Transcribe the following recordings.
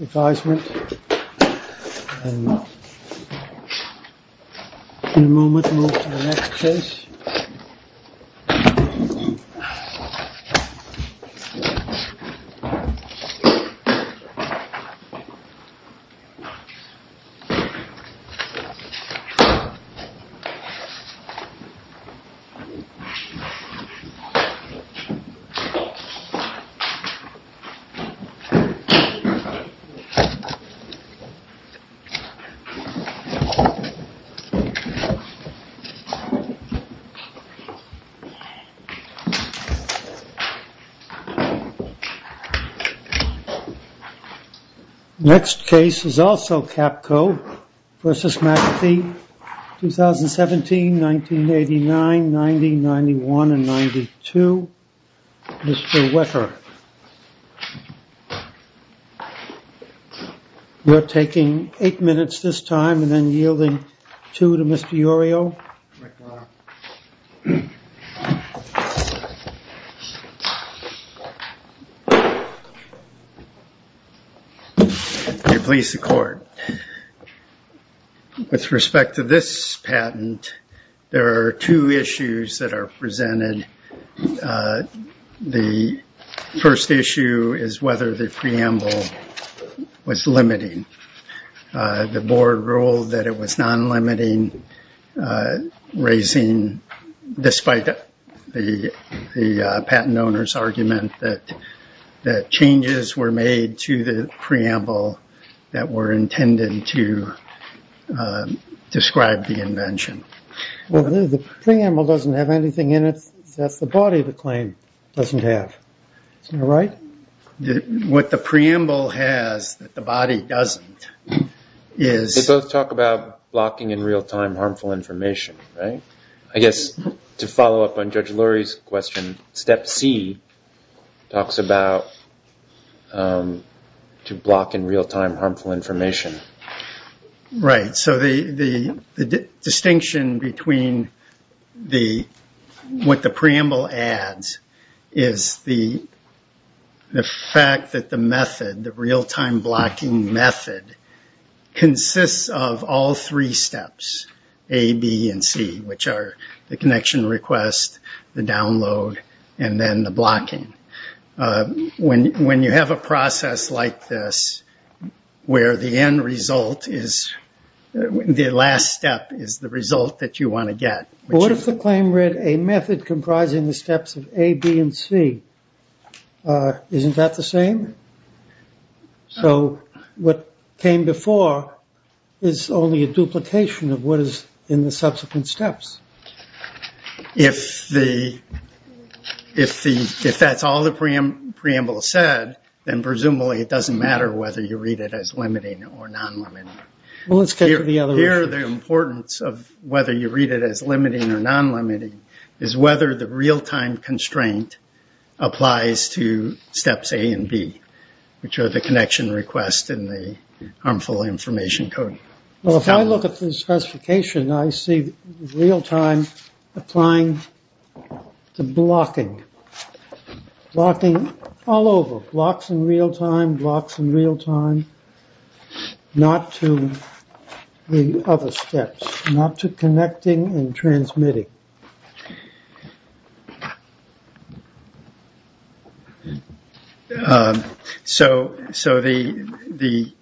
...advisement, and in a moment move to the next place. Next case is also Capco, v. McAfee, 2017, 1989, 1990, 1991, and 1992, Mr. Wecker. We're taking eight minutes this time and then yielding two to Mr. Urio. With respect to this patent, there are two issues that are presented. The first issue is whether the preamble was limiting. The board ruled that it was non-limiting, despite the patent owner's argument that changes were made to the preamble that were intended to describe the invention. The preamble doesn't have anything in it that the body of the claim doesn't have. Isn't that right? What the preamble has that the body doesn't is... They both talk about blocking in real time harmful information, right? I guess to follow up on Judge Lurie's question, step C talks about to block in real time harmful information. Right, so the distinction between what the preamble adds is the fact that the method, the real time blocking method, consists of all three steps, A, B, and C, which are the connection request, the download, and then the blocking. When you have a process like this, where the end result is, the last step is the result that you want to get. What if the claim read a method comprising the steps of A, B, and C? Isn't that the same? So what came before is only a duplication of what is in the subsequent steps. If that's all the preamble said, then presumably it doesn't matter whether you read it as limiting or non-limiting. Here the importance of whether you read it as limiting or non-limiting is whether the real time constraint applies to steps A and B, which are the connection request and the harmful information code. Well, if I look at the specification, I see real time applying to blocking. Blocking all over, blocks in real time, blocks in real time, not to the other steps, not to connecting and transmitting. So the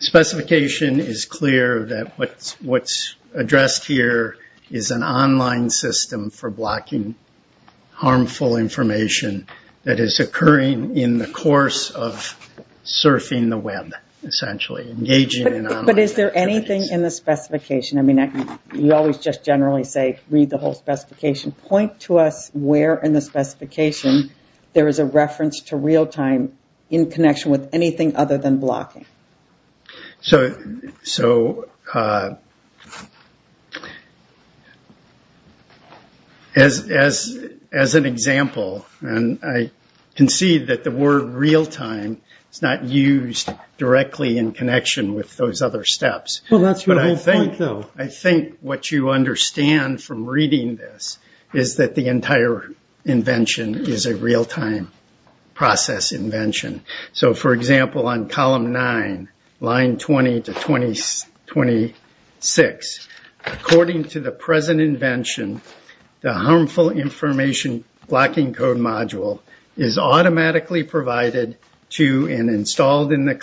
specification is clear that what's addressed here is an online system for blocking harmful information that is occurring in the course of surfing the web, essentially. But is there anything in the specification? You always just generally say read the whole specification. Point to us where in the specification there is a reference to real time in connection with anything other than blocking. So as an example, and I can see that the word real time is not used directly in connection with those other steps. Well, that's your whole point, though. I think what you understand from reading this is that the entire invention is a real time process invention. So, for example, on column 9, line 20 to 26, according to the present invention, the harmful information blocking code module is automatically provided to and installed in the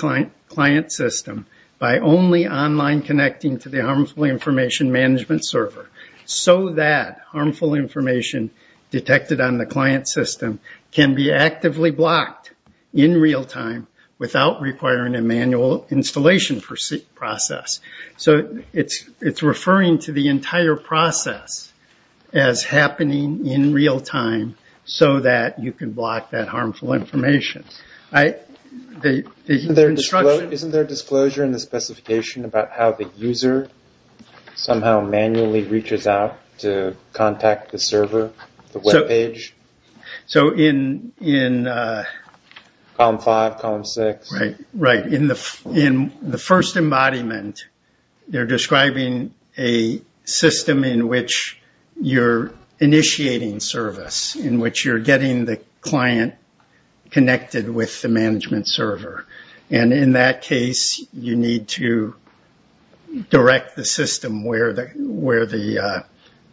client system by only online connecting to the harmful information management server. So that harmful information detected on the client system can be actively blocked in real time without requiring a manual installation process. So it's referring to the entire process as happening in real time so that you can block that harmful information. Isn't there a disclosure in the specification about how the user somehow manually reaches out to contact the server, the web page? So in... Column 5, column 6. Right. In the first embodiment, they're describing a system in which you're initiating service, in which you're getting the client connected with the management server. And in that case, you need to direct the system where the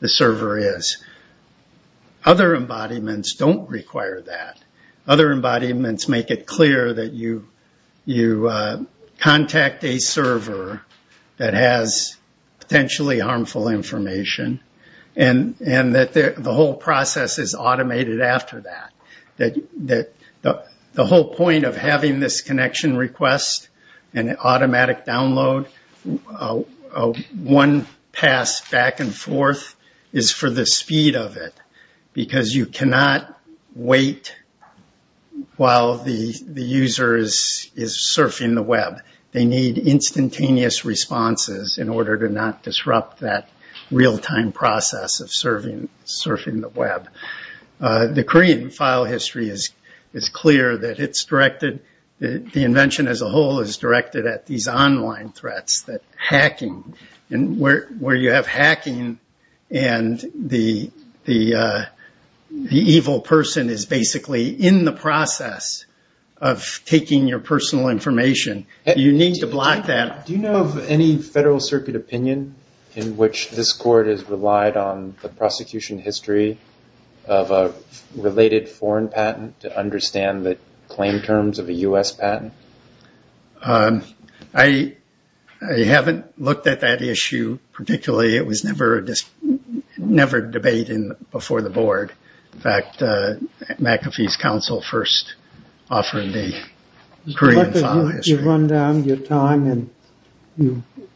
server is. Other embodiments don't require that. Other embodiments make it clear that you contact a server that has potentially harmful information and that the whole process is automated after that. The whole point of having this connection request and automatic download, one pass back and forth, is for the speed of it. Because you cannot wait while the user is surfing the web. They need instantaneous responses in order to not disrupt that real time process of surfing the web. The Korean file history is clear that it's directed... The invention as a whole is directed at these online threats, that hacking. And where you have hacking and the evil person is basically in the process of taking your personal information, you need to block that. Do you know of any federal circuit opinion in which this court has relied on the prosecution history of a related foreign patent to understand the claim terms of a U.S. patent? I haven't looked at that issue particularly. It was never debated before the board. In fact, McAfee's counsel first offered the Korean file history. We should run down your time and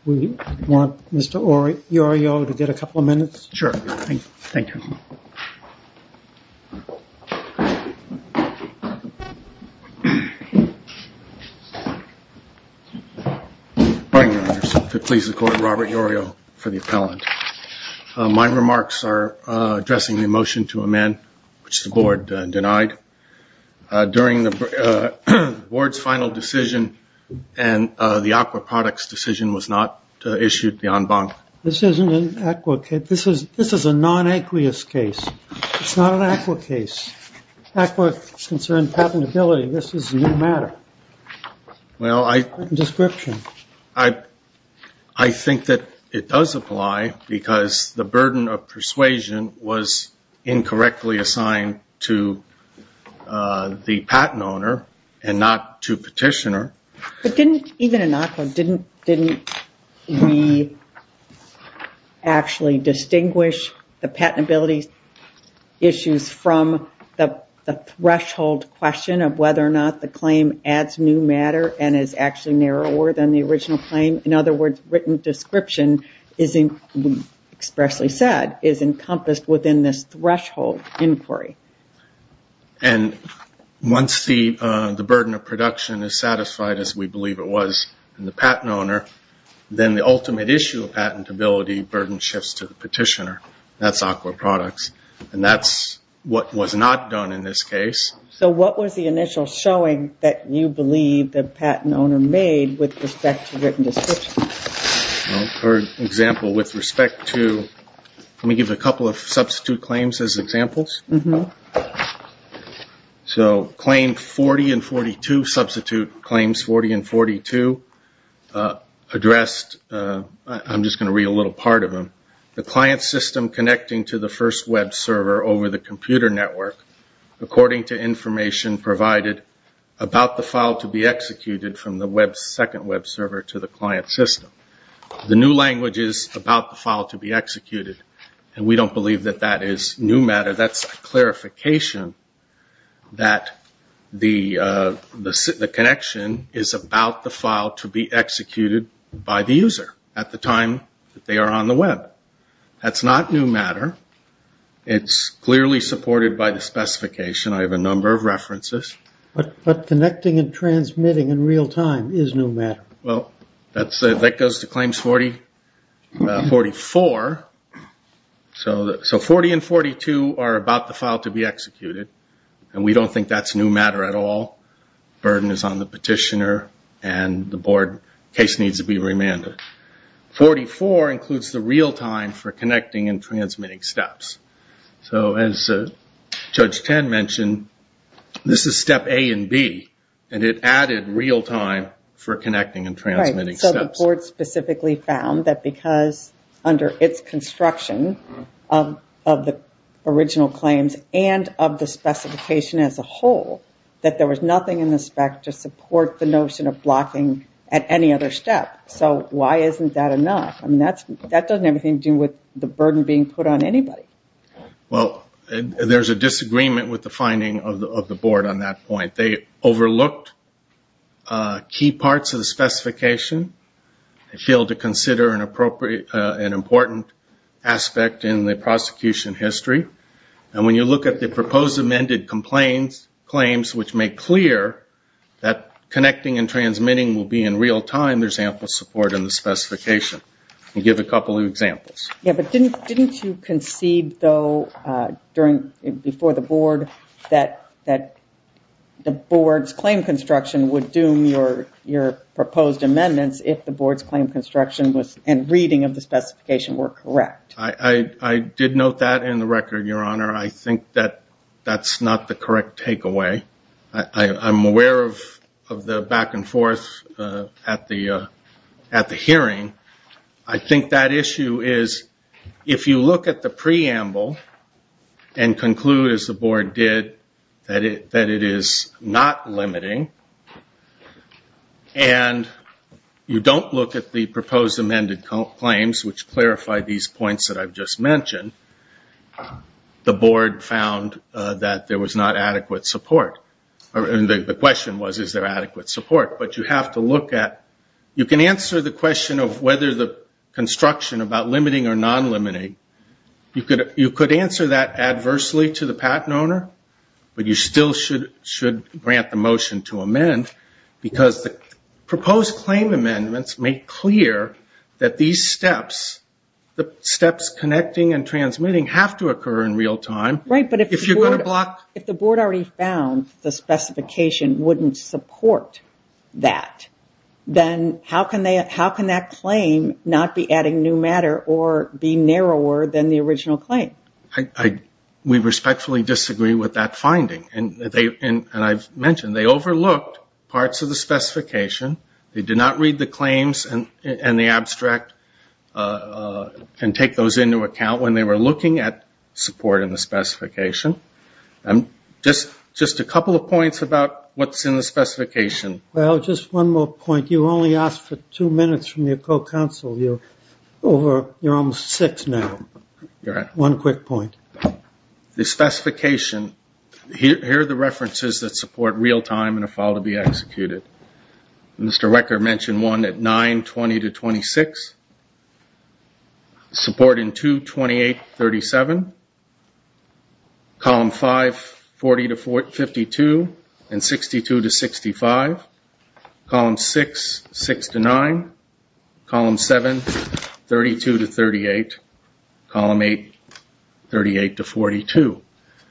we want Mr. Yorio to get a couple of minutes. Sure. Thank you. Robert Yorio for the appellant. My remarks are addressing the motion to amend, which the board denied. During the board's final decision and the aqua products decision was not issued beyond bond. This isn't an aqua case. This is a non-aqueous case. It's not an aqua case. Aqua concerns patentability. This is a new matter. Well, I... It's a different description. I think that it does apply because the burden of persuasion was incorrectly assigned to the patent owner and not to petitioner. Even in aqua, didn't we actually distinguish the patentability issues from the threshold question of whether or not the claim adds new matter and is actually narrower than the original claim? In other words, written description, expressly said, is encompassed within this threshold inquiry. And once the burden of production is satisfied as we believe it was in the patent owner, then the ultimate issue of patentability burden shifts to the petitioner. That's aqua products. And that's what was not done in this case. So what was the initial showing that you believe the patent owner made with respect to written description? For example, with respect to... Let me give a couple of substitute claims as examples. So claim 40 and 42, substitute claims 40 and 42, addressed... I'm just going to read a little part of them. The client system connecting to the first web server over the computer network, according to information provided about the file to be executed from the second web server to the client system. The new language is about the file to be executed. And we don't believe that that is new matter. That's a clarification that the connection is about the file to be executed by the user at the time that they are on the web. That's not new matter. It's clearly supported by the specification. I have a number of references. But connecting and transmitting in real time is new matter. Well, that goes to claims 44. So 40 and 42 are about the file to be executed. And we don't think that's new matter at all. Burden is on the petitioner. And the board case needs to be remanded. 44 includes the real time for connecting and transmitting steps. So as Judge Tan mentioned, this is step A and B. And it added real time for connecting and transmitting steps. The board specifically found that because under its construction of the original claims and of the specification as a whole, that there was nothing in the spec to support the notion of blocking at any other step. So why isn't that enough? I mean, that doesn't have anything to do with the burden being put on anybody. Well, there's a disagreement with the finding of the board on that point. They overlooked key parts of the specification. They failed to consider an important aspect in the prosecution history. And when you look at the proposed amended claims, which make clear that connecting and transmitting will be in real time, there's ample support in the specification. I'll give a couple of examples. Yeah, but didn't you concede, though, before the board, that the board's claim construction would doom your proposed amendments if the board's claim construction and reading of the specification were correct? I did note that in the record, Your Honor. I think that that's not the correct takeaway. I'm aware of the back and forth at the hearing. I think that issue is, if you look at the preamble and conclude, as the board did, that it is not limiting, and you don't look at the proposed amended claims, which clarify these points that I've just mentioned, the board found that there was not adequate support. The question was, is there adequate support? You can answer the question of whether the construction about limiting or non-limiting. You could answer that adversely to the patent owner, but you still should grant the motion to amend, because the proposed claim amendments make clear that these steps, the steps connecting and transmitting, have to occur in real time. If the board already found the specification wouldn't support that, then how can that claim not be adding new matter or be narrower than the original claim? We respectfully disagree with that finding. I've mentioned they overlooked parts of the specification. They did not read the claims and the abstract and take those into account when they were looking at support in the specification. Just a couple of points about what's in the specification. Well, just one more point. You only asked for two minutes from your co-counsel. You're almost six now. One quick point. The specification, here are the references that support real time in a file to be executed. Mr. Wecker mentioned one at 9.20 to 26. Support in 2.28.37. Column 5, 40 to 52, and 62 to 65. Column 6, 6 to 9. Column 7, 32 to 38. Column 8, 38 to 42.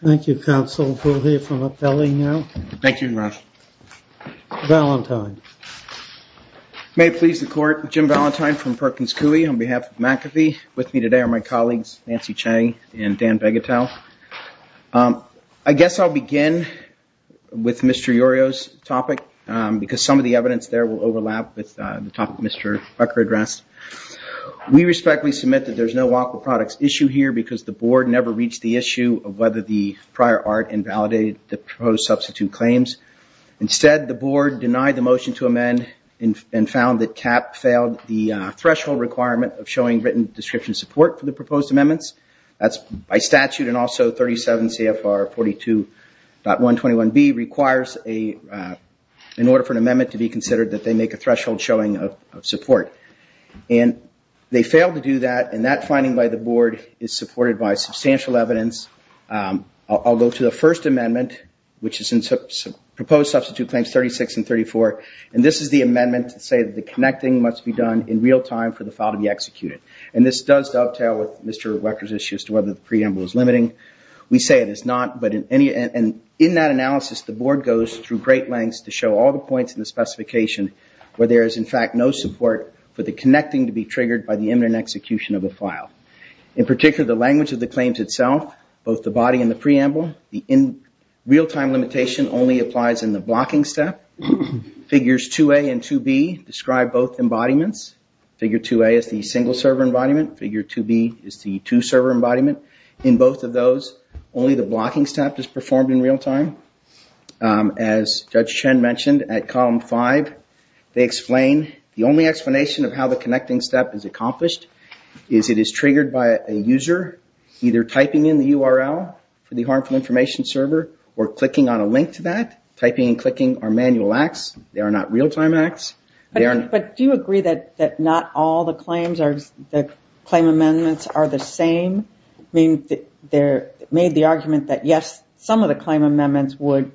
Thank you, counsel. We'll hear from up there now. Thank you, Ron. Valentine. May it please the court. Jim Valentine from Perkins Cooley on behalf of McAfee. With me today are my colleagues, Nancy Chang and Dan Begatow. I guess I'll begin with Mr. Iorio's topic because some of the evidence there will overlap with the topic Mr. Wecker addressed. We respectfully submit that there's no awkward products issue here because the board never reached the issue of whether the prior art invalidated the proposed substitute claims. Instead, the board denied the motion to amend and found that CAP failed the threshold requirement of showing written description support for the proposed amendments. That's by statute and also 37 CFR 42.121B requires in order for an amendment to be considered that they make a threshold showing of support. And they failed to do that and that finding by the board is supported by substantial evidence. I'll go to the first amendment, which is in proposed substitute claims 36 and 34. And this is the amendment to say that the connecting must be done in real time for the file to be executed. And this does dovetail with Mr. Wecker's issue as to whether the preamble is limiting. We say it is not. And in that analysis, the board goes through great lengths to show all the points in the specification where there is, in fact, no support for the connecting to be triggered by the imminent execution of a file. In particular, the language of the claims itself, both the body and the preamble, the real-time limitation only applies in the blocking step. Figures 2A and 2B describe both embodiments. Figure 2A is the single-server embodiment. Figure 2B is the two-server embodiment. In both of those, only the blocking step is performed in real time. As Judge Chen mentioned at column five, they explain the only explanation of how the connecting step is accomplished is it is triggered by a user either typing in the URL for the harmful information server or clicking on a link to that. Typing and clicking are manual acts. They are not real-time acts. But do you agree that not all the claims or the claim amendments are the same? I mean, they made the argument that, yes, some of the claim amendments would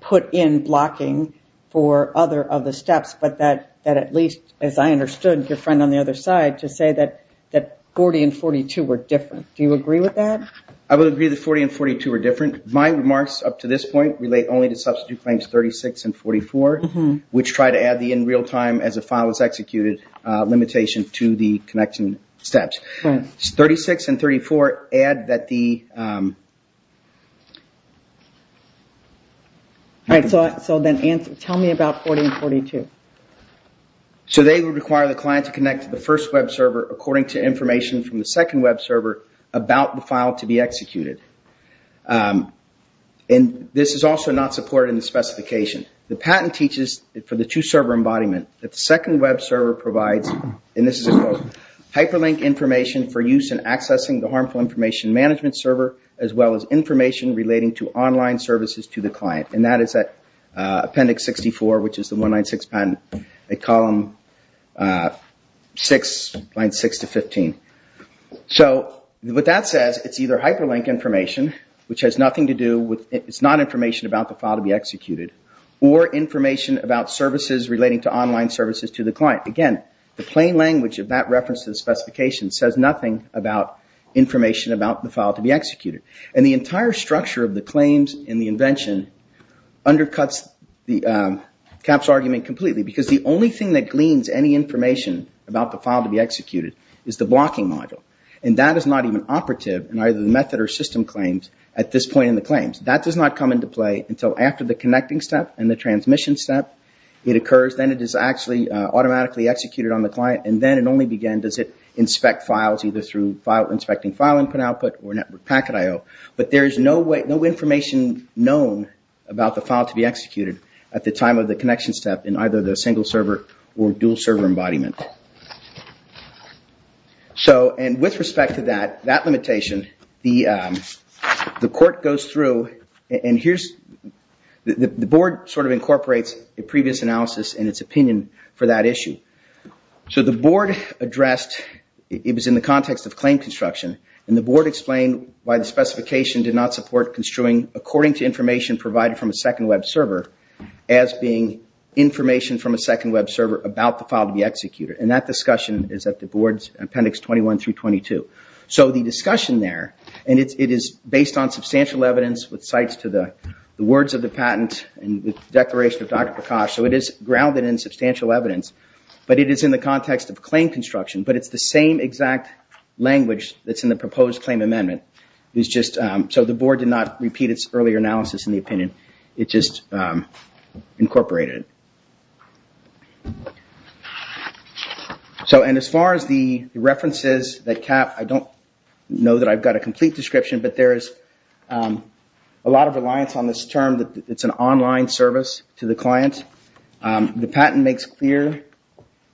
put in blocking for other steps, but that at least, as I understood, your friend on the other side, to say that 40 and 42 were different. Do you agree with that? I would agree that 40 and 42 were different. My remarks up to this point relate only to substitute claims 36 and 44, which try to add the in real time as a file is executed limitation to the connection steps. 36 and 34 add that the... So then tell me about 40 and 42. So they would require the client to connect to the first web server according to information from the second web server about the file to be executed. And this is also not supported in the specification. The patent teaches for the two-server embodiment that the second web server provides, and this is a quote, hyperlink information for use in accessing the harmful information management server as well as information relating to online services to the client. And that is at appendix 64, which is the 196 patent, column 6, lines 6 to 15. So what that says, it's either hyperlink information, which has nothing to do with... It's not information about the file to be executed, but again, the plain language of that reference to the specification says nothing about information about the file to be executed. And the entire structure of the claims and the invention undercuts Cap's argument completely, because the only thing that gleans any information about the file to be executed is the blocking module. And that is not even operative in either the method or system claims at this point in the claims. That does not come into play until after the connecting step and the transmission step. It occurs, then it is actually automatically executed on the client, and then it only begins inspecting files either through inspecting file input output or network packet IO. But there is no information known about the file to be executed at the time of the connection step in either the single-server or dual-server embodiment. So, and with respect to that, that limitation, the court goes through, the board sort of incorporates a previous analysis and its opinion for that issue. So the board addressed, it was in the context of claim construction, and the board explained why the specification did not support construing according to information provided from a second web server as being information from a second web server about the file to be executed. And that discussion is at the board's appendix 21 through 22. So the discussion there, and it is based on substantial evidence with sites to the words of the patent and the declaration of Dr. Prakash, so it is grounded in substantial evidence. But it is in the context of claim construction, but it is the same exact language that is in the proposed claim amendment. So the board did not repeat its earlier analysis in the opinion, it just incorporated it. So, and as far as the references that cap, I don't know that I've got a complete description, but there is a lot of reliance on this term that it's an online service to the client. The patent makes clear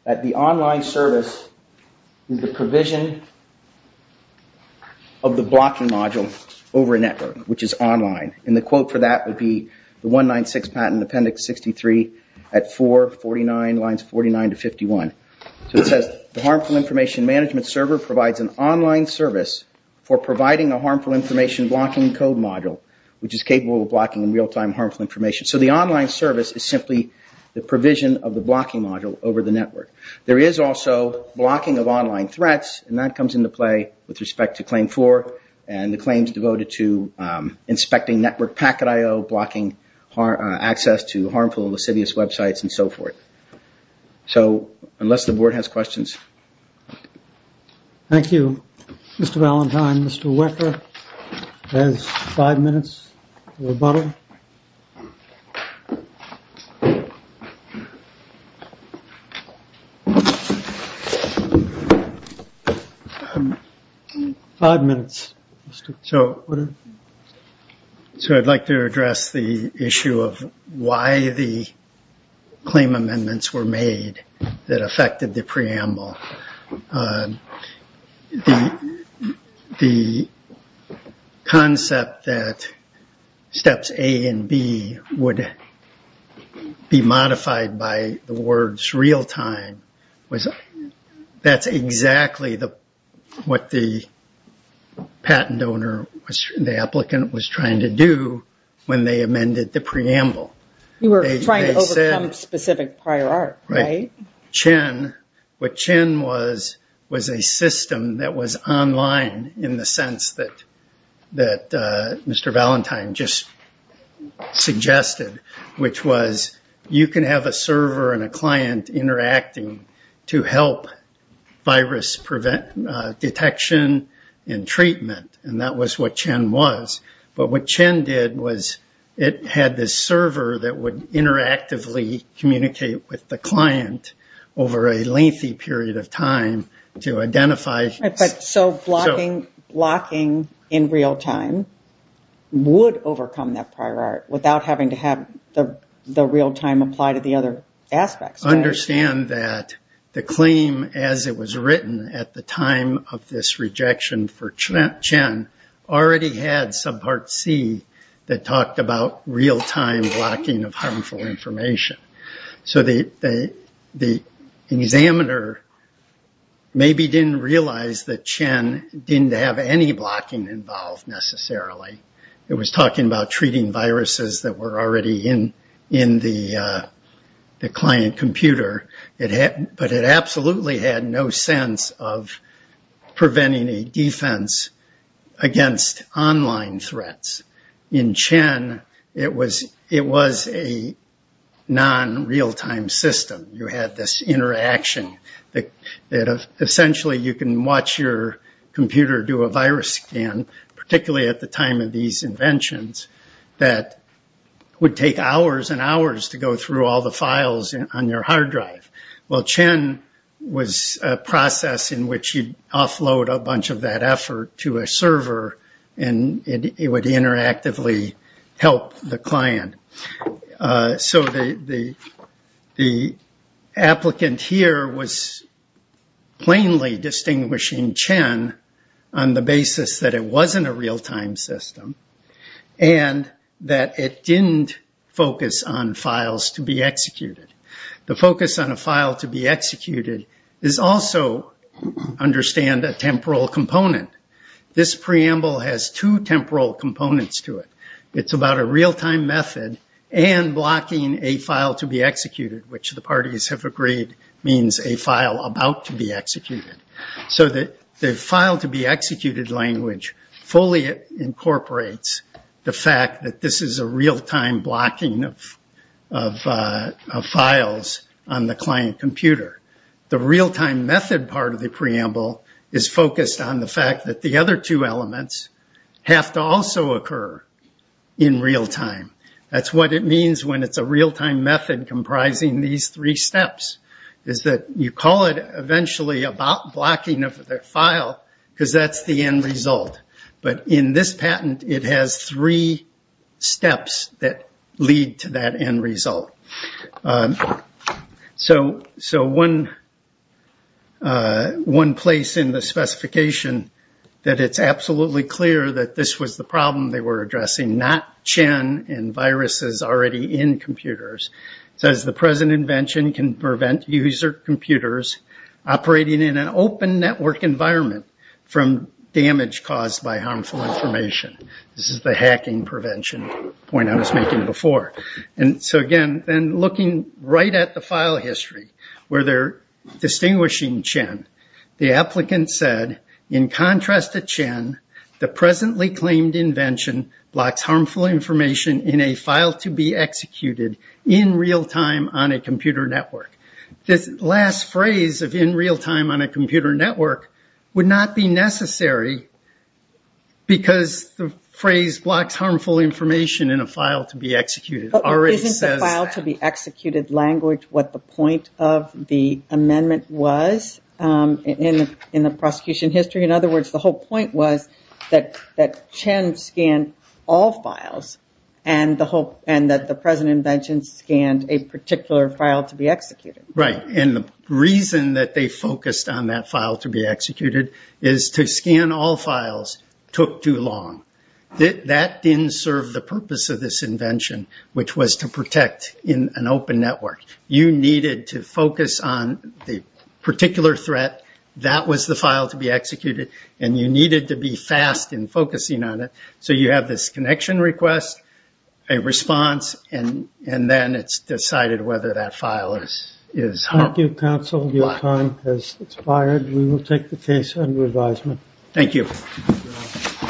that the online service is the provision of the blocking module over a network, which is online. And the quote for that would be the 196 patent appendix 63 at 449 lines 49 to 51. So it says, the harmful information management server provides an online service for providing a harmful information blocking code module, which is capable of blocking real-time harmful information. So the online service is simply the provision of the blocking module over the network. There is also blocking of online threats, and that comes into play with respect to claim 4, and the claims devoted to inspecting network packet IO, blocking access to harmful lascivious websites, and so forth. So, unless the board has questions. Thank you, Mr. Valentine. Mr. Wecker has five minutes to rebuttal. Five minutes. So I'd like to address the issue of why the claim amendments were made that affected the preamble. The concept that steps A and B would be modified by the words real-time, that's exactly what the patent owner, the applicant was trying to do when they amended the preamble. You were trying to overcome specific prior art, right? What CHEN was, was a system that was online in the sense that Mr. Valentine just suggested, which was you can have a server and a client interacting to help virus detection and treatment, and that was what CHEN was. But what CHEN did was it had this server that would interactively communicate with the client over a lengthy period of time to identify... So blocking in real-time would overcome that prior art without having to have the real-time apply to the other aspects. Understand that the claim as it was written at the time of this rejection for CHEN already had subpart C that talked about real-time blocking of harmful information. So the examiner maybe didn't realize that CHEN didn't have any blocking involved necessarily. It was talking about treating viruses that were already in the client computer, but it absolutely had no sense of preventing a defense against online threats. In CHEN, it was a non-real-time system. You had this interaction that essentially you can watch your computer do a virus scan, particularly at the time of these inventions, that would take hours and hours to go through all the files on your hard drive. Well, CHEN was a process in which you'd offload a bunch of that effort to a server, and it would interactively help the client. So the applicant here was plainly distinguishing CHEN on the basis that it wasn't a real-time system and that it didn't focus on files to be executed. The focus on a file to be executed is also, understand, a temporal component. This preamble has two temporal components to it. It's about a real-time method and blocking a file to be executed, which the parties have agreed means a file about to be executed. So the file-to-be-executed language fully incorporates the fact that this is a real-time blocking of files on the client computer. The real-time method part of the preamble is focused on the fact that the other two elements have to also occur in real-time. That's what it means when it's a real-time method comprising these three steps, is that you call it eventually a blocking of the file because that's the end result. But in this patent, it has three steps that lead to that end result. So one place in the specification that it's absolutely clear that this was the problem they were addressing, not CHEN and viruses already in computers, says the present invention can prevent user computers operating in an open network environment from damage caused by harmful information. This is the hacking prevention point I was making before. Again, looking right at the file history where they're distinguishing CHEN, the applicant said, in contrast to CHEN, the presently claimed invention blocks harmful information in a file-to-be-executed in real-time on a computer network. This last phrase of in real-time on a computer network would not be necessary because the phrase blocks harmful information in a file-to-be-executed already says that. Isn't the file-to-be-executed language what the point of the amendment was in the prosecution history? In other words, the whole point was that CHEN scanned all files and that the present invention scanned a particular file-to-be-executed. Right. And the reason that they focused on that file-to-be-executed is to scan all files took too long. That didn't serve the purpose of this invention, which was to protect an open network. You needed to focus on the particular threat. That was the file-to-be-executed, and you needed to be fast in focusing on it. So you have this connection request, a response, and then it's decided whether that file is harmful. Thank you, counsel. Your time has expired. We will take the case under advisement. Thank you.